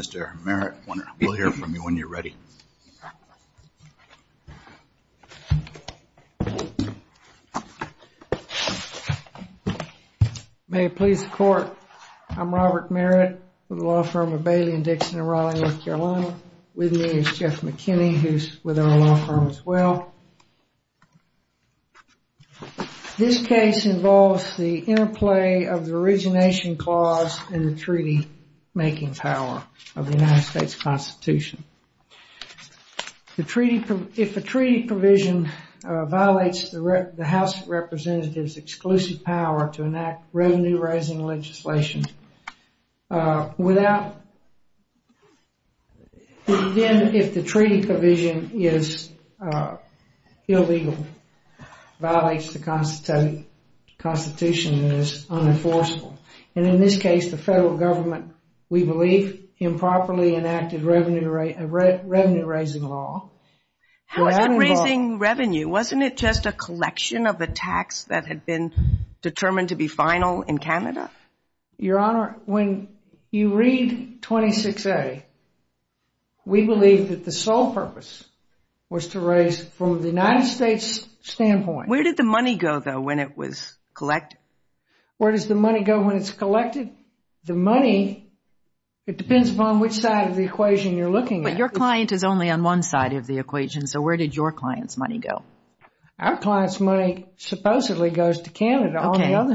Mr. Merritt, we'll hear from you when you're ready. May it please the Court, I'm Robert Merritt with the law firm of Bailey & Dixon in Raleigh, North Carolina. With me is Jeff McKinney, who's with our law firm as well. I'm going to talk about this case. This case involves the interplay of the Origination Clause and the treaty-making power of the United States Constitution. If a treaty provision violates the House of Representatives' exclusive power to enact revenue-raising legislation, then if the treaty provision is illegal, violates the Constitution, it is unenforceable. And in this case, the federal government, we believe, improperly enacted a revenue-raising law. How is that raising revenue? Wasn't it just a collection of the tax that had been determined to be final in Canada? Your Honor, when you read 26A, we believe that the sole purpose was to raise from the United States' standpoint. Where did the money go, though, when it was collected? Where does the money go when it's collected? The money, it depends upon which side of the equation you're looking at. Your client is only on one side of the equation, so where did your client's money go? Our client's money supposedly goes to Canada.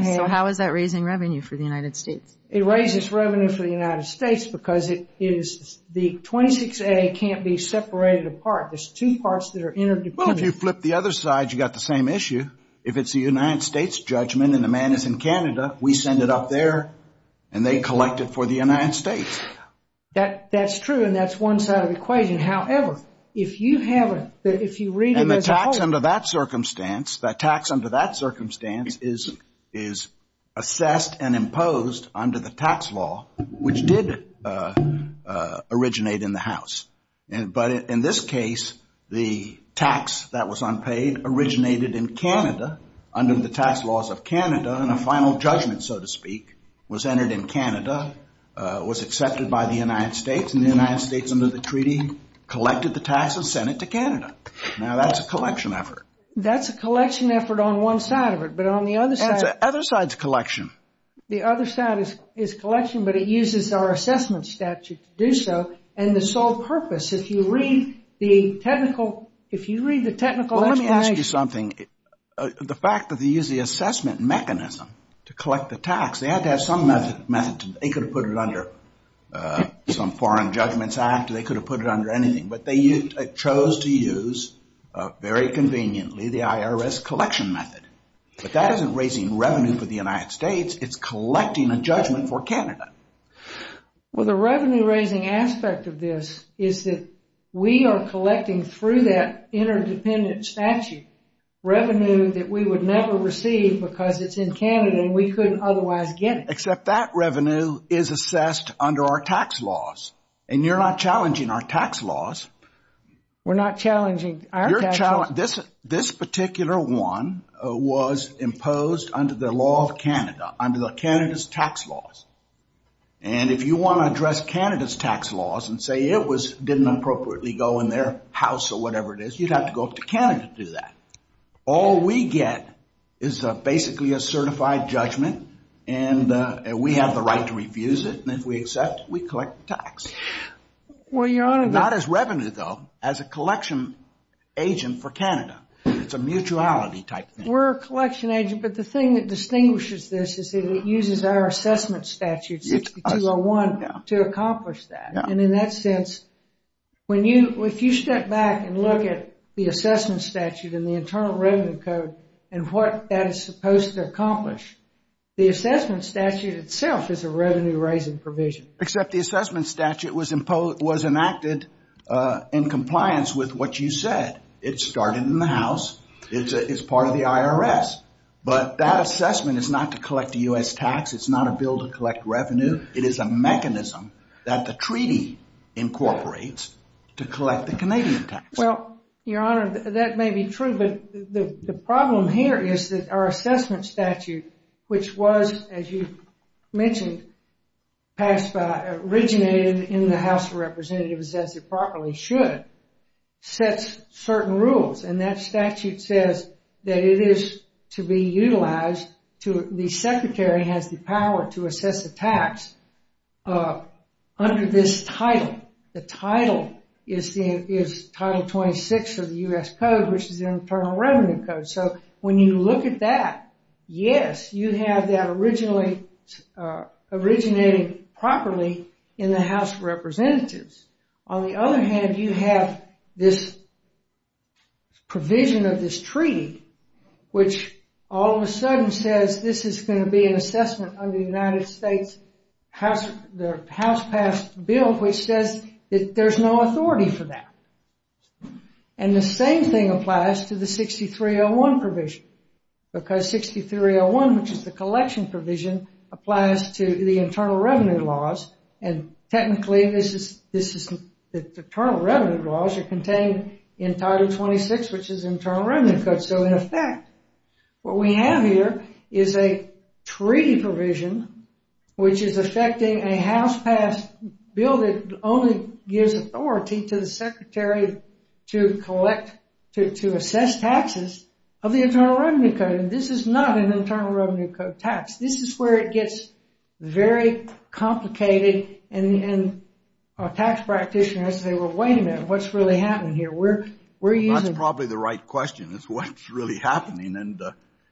So how is that raising revenue for the United States? It raises revenue for the United States because the 26A can't be separated apart. There's two parts that are interdependent. Well, if you flip the other side, you've got the same issue. If it's the United States' judgment and the man is in Canada, we send it up there and they collect it for the United States. That's true, and that's one side of the equation. However, if you read it as a whole... The tax under that circumstance is assessed and imposed under the tax law, which did originate in the House. But in this case, the tax that was unpaid originated in Canada under the tax laws of Canada, and a final judgment, so to speak, was entered in Canada, was accepted by the United States, and the United States, under the treaty, collected the tax and sent it to Canada. Now, that's a collection effort. That's a collection effort on one side of it, but on the other side... That's the other side's collection. The other side is collection, but it uses our assessment statute to do so, and the sole purpose, if you read the technical explanation... Well, let me ask you something. The fact that they use the assessment mechanism to collect the tax, they had to have some method. They could have put it under some foreign judgments act, or they could have put it under anything, but they chose to use, very conveniently, the IRS collection method. But that isn't raising revenue for the United States, it's collecting a judgment for Canada. Well, the revenue raising aspect of this is that we are collecting, through that interdependent statute, revenue that we would never receive because it's in Canada, and we couldn't otherwise get it. Except that revenue is assessed under our tax laws, and you're not challenging our tax laws. We're not challenging our tax laws? This particular one was imposed under the law of Canada, under Canada's tax laws. And if you want to address Canada's tax laws and say it didn't appropriately go in their house or whatever it is, you'd have to go up to Canada to do that. All we get is basically a certified judgment, and we have the right to refuse it, and if we accept, we collect the tax. Well, Your Honor, Not as revenue, though, as a collection agent for Canada. It's a mutuality type thing. We're a collection agent, but the thing that distinguishes this is that it uses our assessment statute 6201 to accomplish that. And in that sense, if you step back and look at the assessment statute and the Internal Revenue Code and what that is supposed to accomplish, the assessment statute itself is a revenue-raising provision. Except the assessment statute was enacted in compliance with what you said. It started in the House. It's part of the IRS. But that assessment is not to collect a U.S. tax. It's not a bill to collect revenue. It is a mechanism that the treaty incorporates to collect the Canadian tax. Well, Your Honor, that may be true, but the problem here is that our assessment statute, which was, as you mentioned, passed by, originated in the House of Representatives, as it properly should, sets certain rules. And that statute says that it is to be utilized to, the Secretary has the power to assess the tax under this title. The title is Title 26 of the U.S. Code, which is the Internal Revenue Code. So when you look at that, yes, you have that originating properly in the House of Representatives. On the other hand, you have this provision of this treaty, which all of a sudden says this is going to be an assessment under the United States House passed bill, which says that there's no authority for that. And the same thing applies to the 6301 provision, because 6301, which is the collection provision, applies to the Internal Revenue Laws. And technically, this is, the Internal Revenue Laws are contained in Title 26, which is Internal Revenue Code. So in effect, what we have here is a treaty provision, which is affecting a House passed bill that only gives authority to the Secretary to collect, to assess taxes of the Internal Revenue Code. And this is not an Internal Revenue Code tax. This is where it gets very complicated. And a tax practitioner has to say, well, wait a minute, what's really happening here? That's probably the right question, is what's really happening. And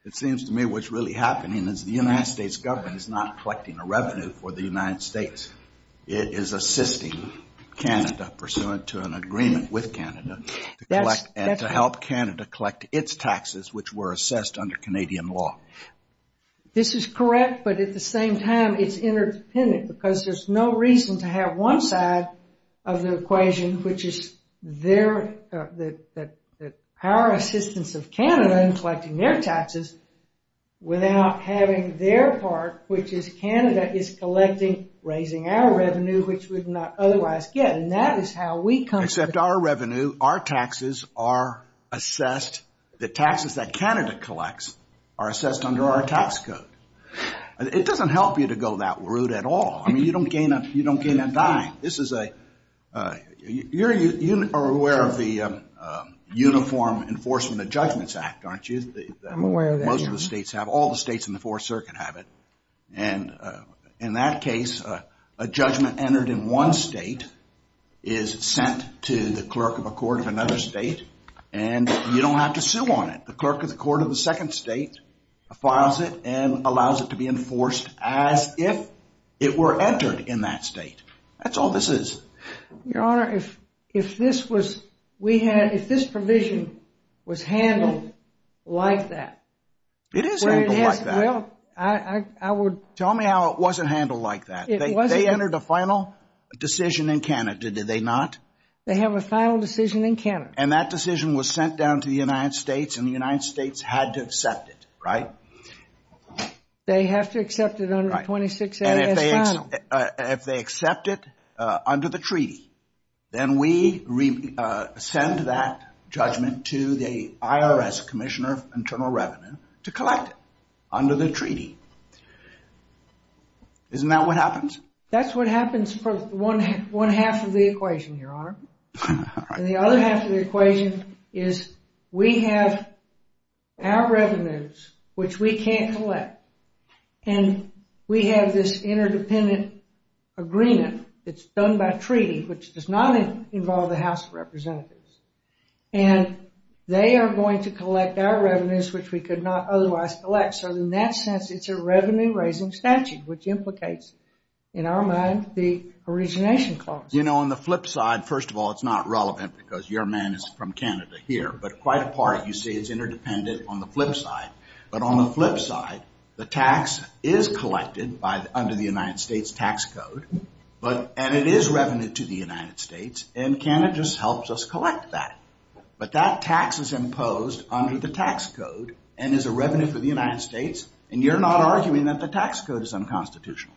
it seems to me what's really happening is the United States government is not collecting a revenue for the United States. It is assisting Canada pursuant to an agreement with Canada to collect and to help Canada collect its taxes, which were assessed under Canadian law. This is correct, but at the same time, it's interdependent because there's no reason to have one side of the equation, which is the power assistance of Canada in collecting their taxes, without having their part, which is Canada is collecting, raising our revenue, which we would not otherwise get. And that is how we come to... Except our revenue, our taxes are assessed, the taxes that Canada collects are assessed under our revenue. This is a... You're aware of the Uniform Enforcement of Judgments Act, aren't you? I'm aware of that. Most of the states have. All the states in the Fourth Circuit have it. And in that case, a judgment entered in one state is sent to the clerk of a court of another state, and you don't have to sue on it. The clerk of the court of the second state files it and allows it to be enforced as if it were entered in that state. That's all this is. Your Honor, if this provision was handled like that... It is handled like that. Well, I would... Tell me how it wasn't handled like that. They entered a final decision in Canada, did they not? They have a final decision in Canada. And that decision was sent down to the United States, and the United States had to accept it, right? They have to accept it under 26 A.S. final. And if they accept it under the treaty, then we send that judgment to the IRS Commissioner of Internal Revenue to collect it under the treaty. Isn't that what happens? That's what happens for one half of the equation, Your Honor. And the other half of the equation is we have our revenues, which we can't collect, and we have this interdependent agreement that's done by treaty, which does not involve the House of Representatives. And they are going to collect our revenues, which we could not otherwise collect. So in that sense, it's a revenue-raising statute, which implicates in our mind the origination clause. You know, on the flip side, first of all, it's not relevant because your man is from Canada here, but quite a part, you see, is interdependent on the flip side. But on the flip side, the tax is collected under the United States tax code, and it is revenue to the United States, and Canada just helps us collect that. But that tax is imposed under the tax code and is a revenue for the United States, and you're not arguing that the tax code is unconstitutional?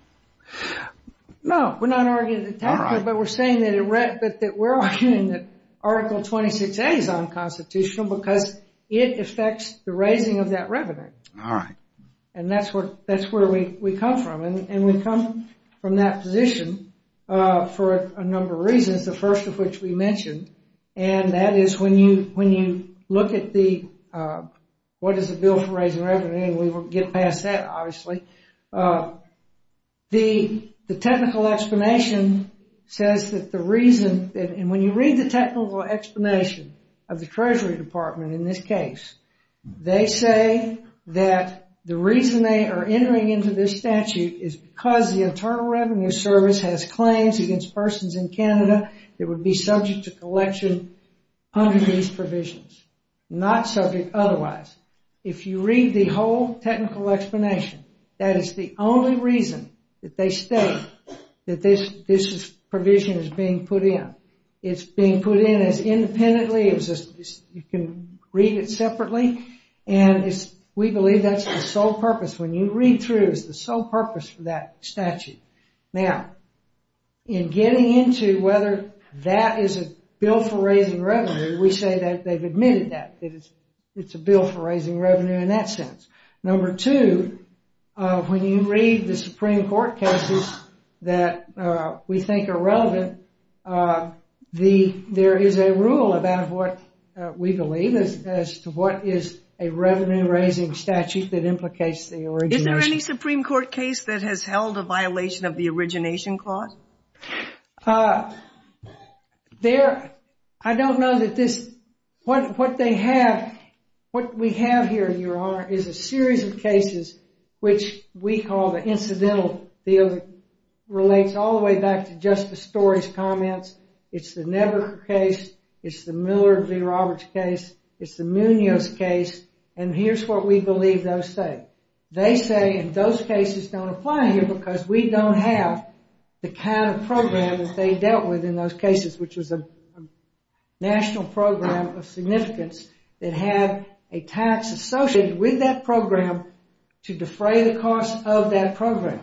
No, we're not arguing the tax code, but we're saying that we're arguing that 26A is unconstitutional because it affects the raising of that revenue. All right. And that's where we come from. And we come from that position for a number of reasons, the first of which we mentioned. And that is when you look at the, what is the bill for raising revenue? And we will get past that, obviously. The technical explanation says that the reason, and when you read the technical explanation of the Treasury Department in this case, they say that the reason they are entering into this statute is because the Internal Revenue Service has claims against persons in Canada that would be subject to collection under these provisions, not subject otherwise. If you read the whole technical explanation, that is the only reason that they state that this provision is being put in. It's being put in as independently, you can read it separately, and we believe that's the sole purpose. When you read through, it's the sole purpose for that statute. Now, in getting into whether that is a bill for raising revenue, we say that they've admitted that it's a bill for raising revenue in that sense. Number two, when you read the Supreme Court cases that we think are relevant, there is a rule about what we believe as to what is a revenue-raising statute that implicates the origination. Is there any Supreme Court case that has held a violation of the case? There's a series of cases which we call the incidental field. It relates all the way back to Justice Story's comments. It's the Nebaker case, it's the Miller v. Roberts case, it's the Munoz case, and here's what we believe those say. They say those cases don't apply here because we don't have the kind of program that they dealt with in those cases, which was a national program of to defray the cost of that program.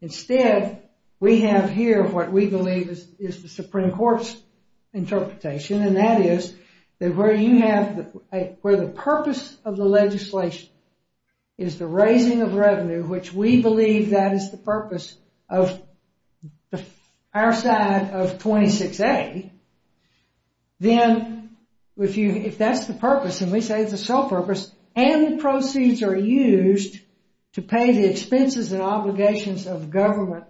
Instead, we have here what we believe is the Supreme Court's interpretation, and that is that where you have the purpose of the legislation is the raising of revenue, which we believe that is the purpose of our side of 26A, then if that's the purpose, and we say it's the sole purpose, and the proceeds are used to pay the expenses and obligations of government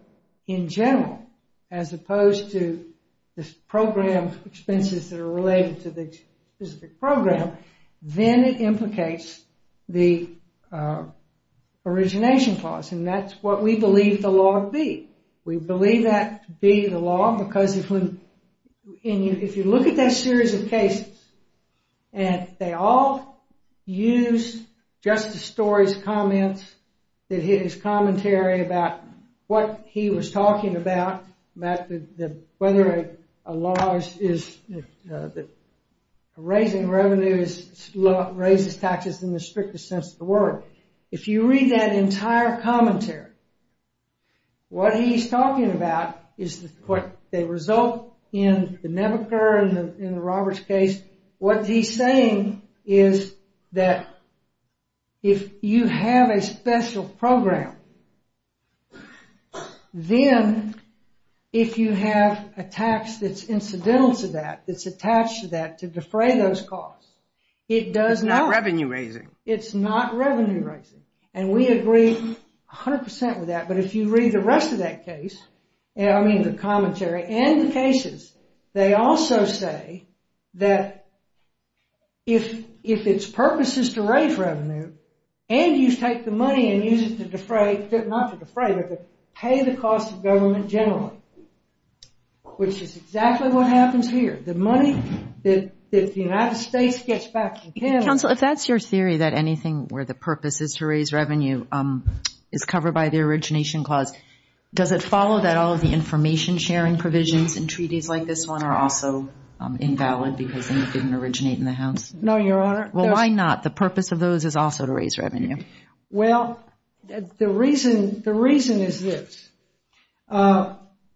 in general, as opposed to the program expenses that are related to the specific program, then it implicates the origination clause, and that's what we believe the law to be. We believe that to be the law because if you look at that series of cases, and they all use Justice Story's comments, his commentary about what he was talking about, whether a law is raising revenue, raises taxes in the strictest sense of the word. If you read that entire commentary, what he's talking about is what they result in the Nebuchadnezzar and in the Roberts case. What he's saying is that if you have a special program, then if you have a tax that's incidental to that, that's attached to that to defray those costs, it does not. It's not revenue raising. It's not revenue raising, and we agree 100% with that, but if you read the rest of that case, I mean the commentary and the cases, they also say that if its purpose is to raise revenue, and you take the money and use it to defray, not to defray, but to pay the cost of government generally, which is exactly what happens here. The money that the United States gets back. Counsel, if that's your theory that anything where the purpose is to raise revenue is covered by the origination clause, does it follow that all of the information sharing provisions and treaties like this one are also invalid because they didn't originate in the House? No, Your Honor. Well, why not? The purpose of those is also to raise revenue. Well, the reason is this.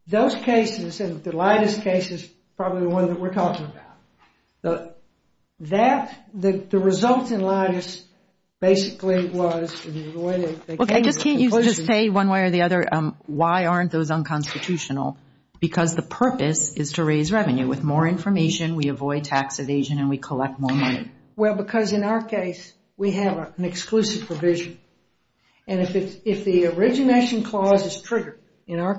Those cases and the lightest cases, probably the one that we're talking about. That, the result in lightest basically was... Okay, just can't you just say one way or the other, why aren't those unconstitutional? Because the purpose is to raise revenue. With more information, we avoid tax evasion and we collect more money. Well, because in our case, we have an exclusive provision, and if the origination clause is provision in a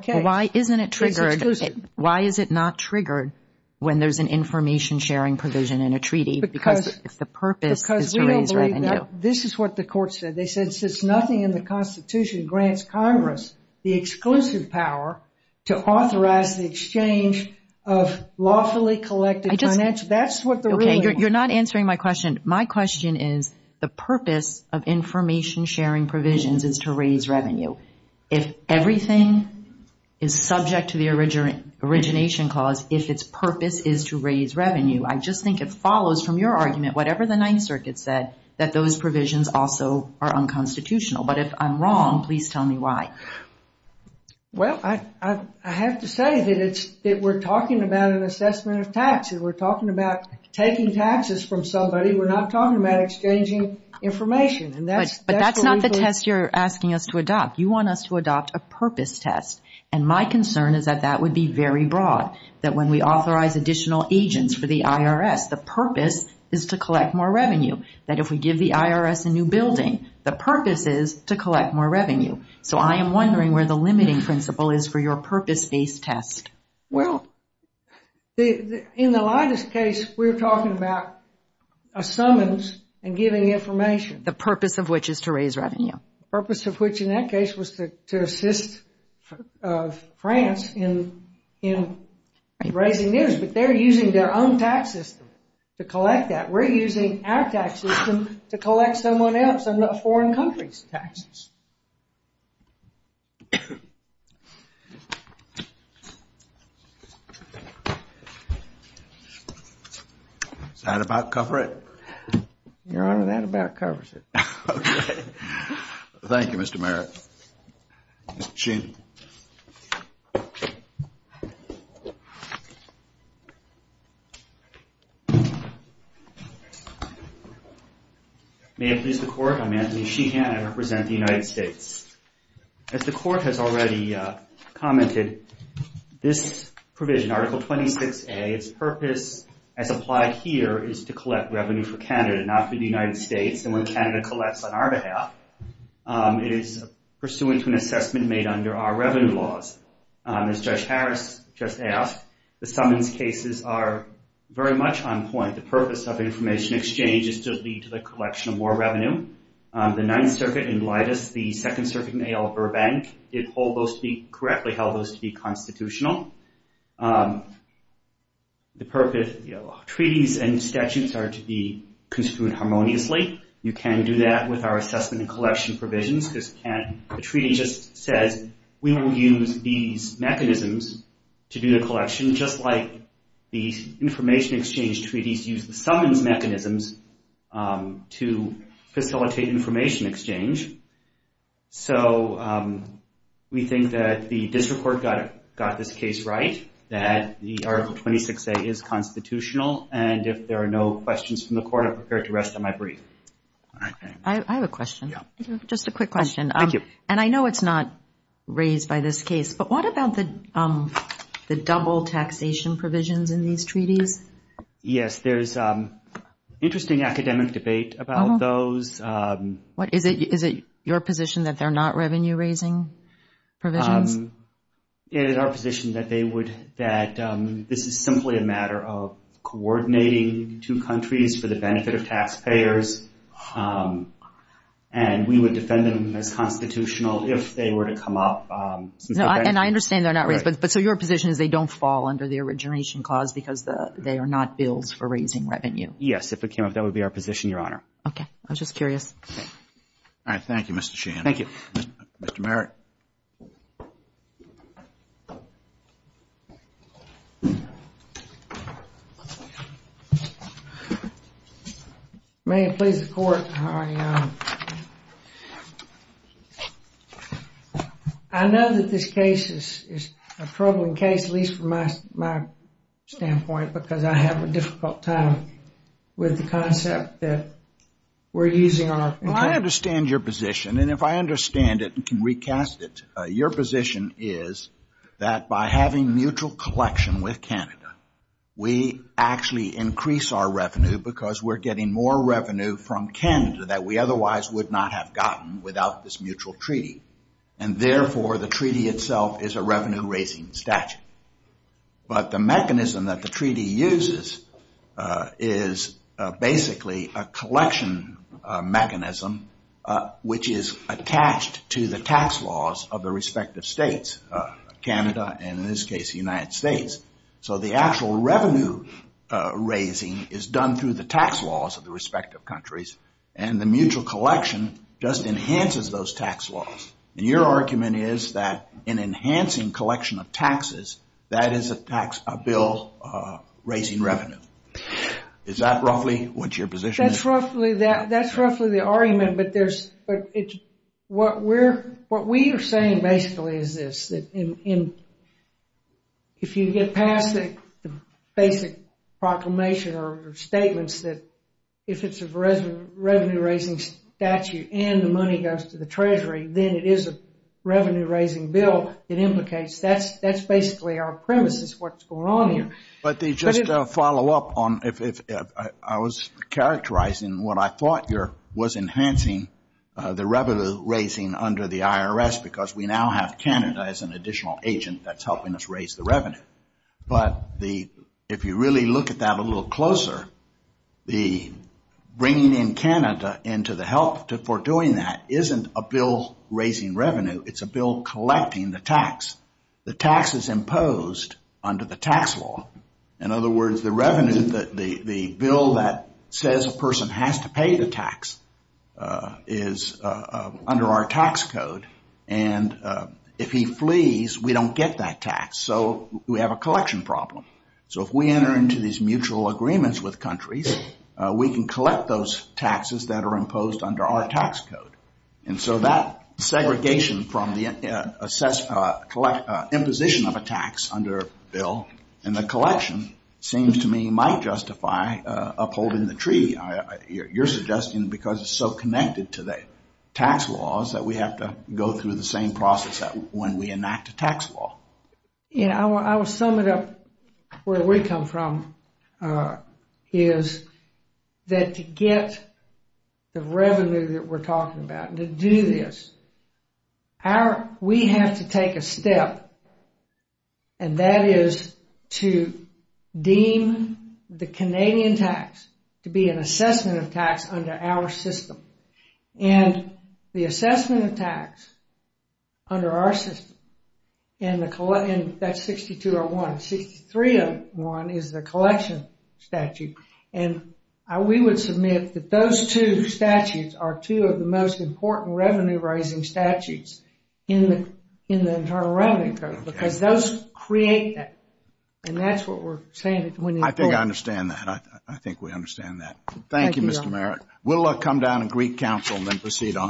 treaty, because if the purpose is to raise revenue... Because we don't believe that. This is what the court said. They said, since nothing in the Constitution grants Congress the exclusive power to authorize the exchange of lawfully collected financial... That's what the... Okay, you're not answering my question. My question is, the purpose of information sharing provisions is to raise revenue. If everything is subject to the origination clause, if its purpose is to raise revenue, I just think it follows from your argument, whatever the Ninth Circuit said, that those provisions also are unconstitutional. But if I'm wrong, please tell me why. Well, I have to say that we're talking about an assessment of taxes. We're talking about taking taxes from somebody. We're not talking about exchanging information and that's... But that's not the test you're asking us to adopt. You want us to adopt a purpose test. And my concern is that that would be very broad. That when we authorize additional agents for the IRS, the purpose is to collect more revenue. That if we give the IRS a new building, the purpose is to collect more revenue. So I am wondering where the limiting principle is for your purpose-based test. Well, in the lightest case, we're talking about a summons and giving information. The purpose of which is to raise revenue. Purpose of which in that case was to assist France in raising news. But they're using their own tax system to collect that. We're using our tax system to collect someone else's foreign country's taxes. Is that about cover it? Your Honor, that about covers it. Thank you, Mr. Merritt. Mr. Sheehan. May it please the Court, I'm Anthony Sheehan. I represent the United States. As the Court has already commented, this provision, Article 26A, its purpose as applied here is to collect revenue for Canada, not for the United States. And when Canada collects on our behalf, it is pursuant to an assessment made under our revenue laws. As Judge Harris just asked, the summons cases are very much on point. The purpose of information exchange is to lead to the collection of more revenue. The Ninth Circuit in lightest, the Second Circuit in A.L. Burbank, it hold those to be, correctly held those to be constitutional. The purpose, treaties and statutes are to be construed harmoniously. You can do that with our assessment and collection provisions, because the treaty just says we will use these mechanisms to do the collection, just like the information exchange treaties use the summons mechanisms to facilitate information exchange. So we think that the District Court got this case right, that the Article 26A is constitutional. And if there are no questions from the Court, I'm prepared to rest on my brief. I have a question. Just a quick question. And I know it's not raised by this case, but what about the double taxation provisions in these treaties? Yes, there's interesting academic debate about those. What, is it your position that they're not revenue raising provisions? It is our position that they would, that this is simply a matter of coordinating two countries for the benefit of taxpayers. And we would defend them as constitutional if they were to come up. And I understand they're not raised, but so your position is they don't fall under the origination clause because they are not bills for raising revenue? Yes, if it came up, that would be our position, Your Honor. Okay. I was just curious. All right. Thank you, Mr. Shahan. Thank you. Mr. Merritt. May it please the Court, Your Honor. I know that this case is a troubling case, at least from my standpoint, because I have a difficult time with the concept that we're using. Well, I understand your position and if I understand it and can recast it, your position is that by having mutual collection with Canada, we actually increase our revenue because we're getting more revenue from Canada that we otherwise would not have gotten without this mutual treaty. And therefore, the treaty itself is a revenue raising statute. But the mechanism that the treaty uses is basically a collection mechanism, which is attached to the tax laws of the respective states, Canada, and in this case, the United States. So the actual revenue raising is done through the tax laws of the respective countries and the mutual collection just enhances those tax laws. And your argument is that in enhancing collection of taxes, that is a bill raising revenue. Is that roughly what your position is? That's roughly the argument, but what we're saying basically is this. If you get past the basic proclamation or statements that if it's a revenue raising statute and the money goes to the Treasury, then it is a revenue raising bill. It implicates that's basically our premises, what's going on here. But they just follow up on if I was characterizing what I thought here was enhancing the revenue raising under the IRS because we now have Canada as an additional agent that's helping us raise the revenue. But if you really look at that a little closer, the bringing in Canada into the help for doing that isn't a bill raising revenue, it's a bill collecting the tax. The tax is imposed under the tax law. In other words, the revenue that the bill that says a person has to pay the tax is under our tax code. And if he flees, we don't get that tax. So we have a collection problem. So if we enter into these mutual agreements with countries, we can collect those taxes that are imposed under our tax code. And so that segregation from the imposition of a tax under a bill and the collection seems to me might justify upholding the treaty. You're suggesting because it's so connected to the tax laws that we have to go through the same process when we enact a tax law. You know, I will sum it up where we come from is that to get the revenue that we're talking about and to do this, we have to take a step and that is to deem the Canadian tax to be an assessment of tax under our system. And that's 6201. 6301 is the collection statute. And we would submit that those two statutes are two of the most important revenue-raising statutes in the Internal Revenue Code because those create that. And that's what we're saying. I think I understand that. I think we understand that. Thank you, Mr. Merritt. We'll come down to Greek Council and then proceed on to the next case.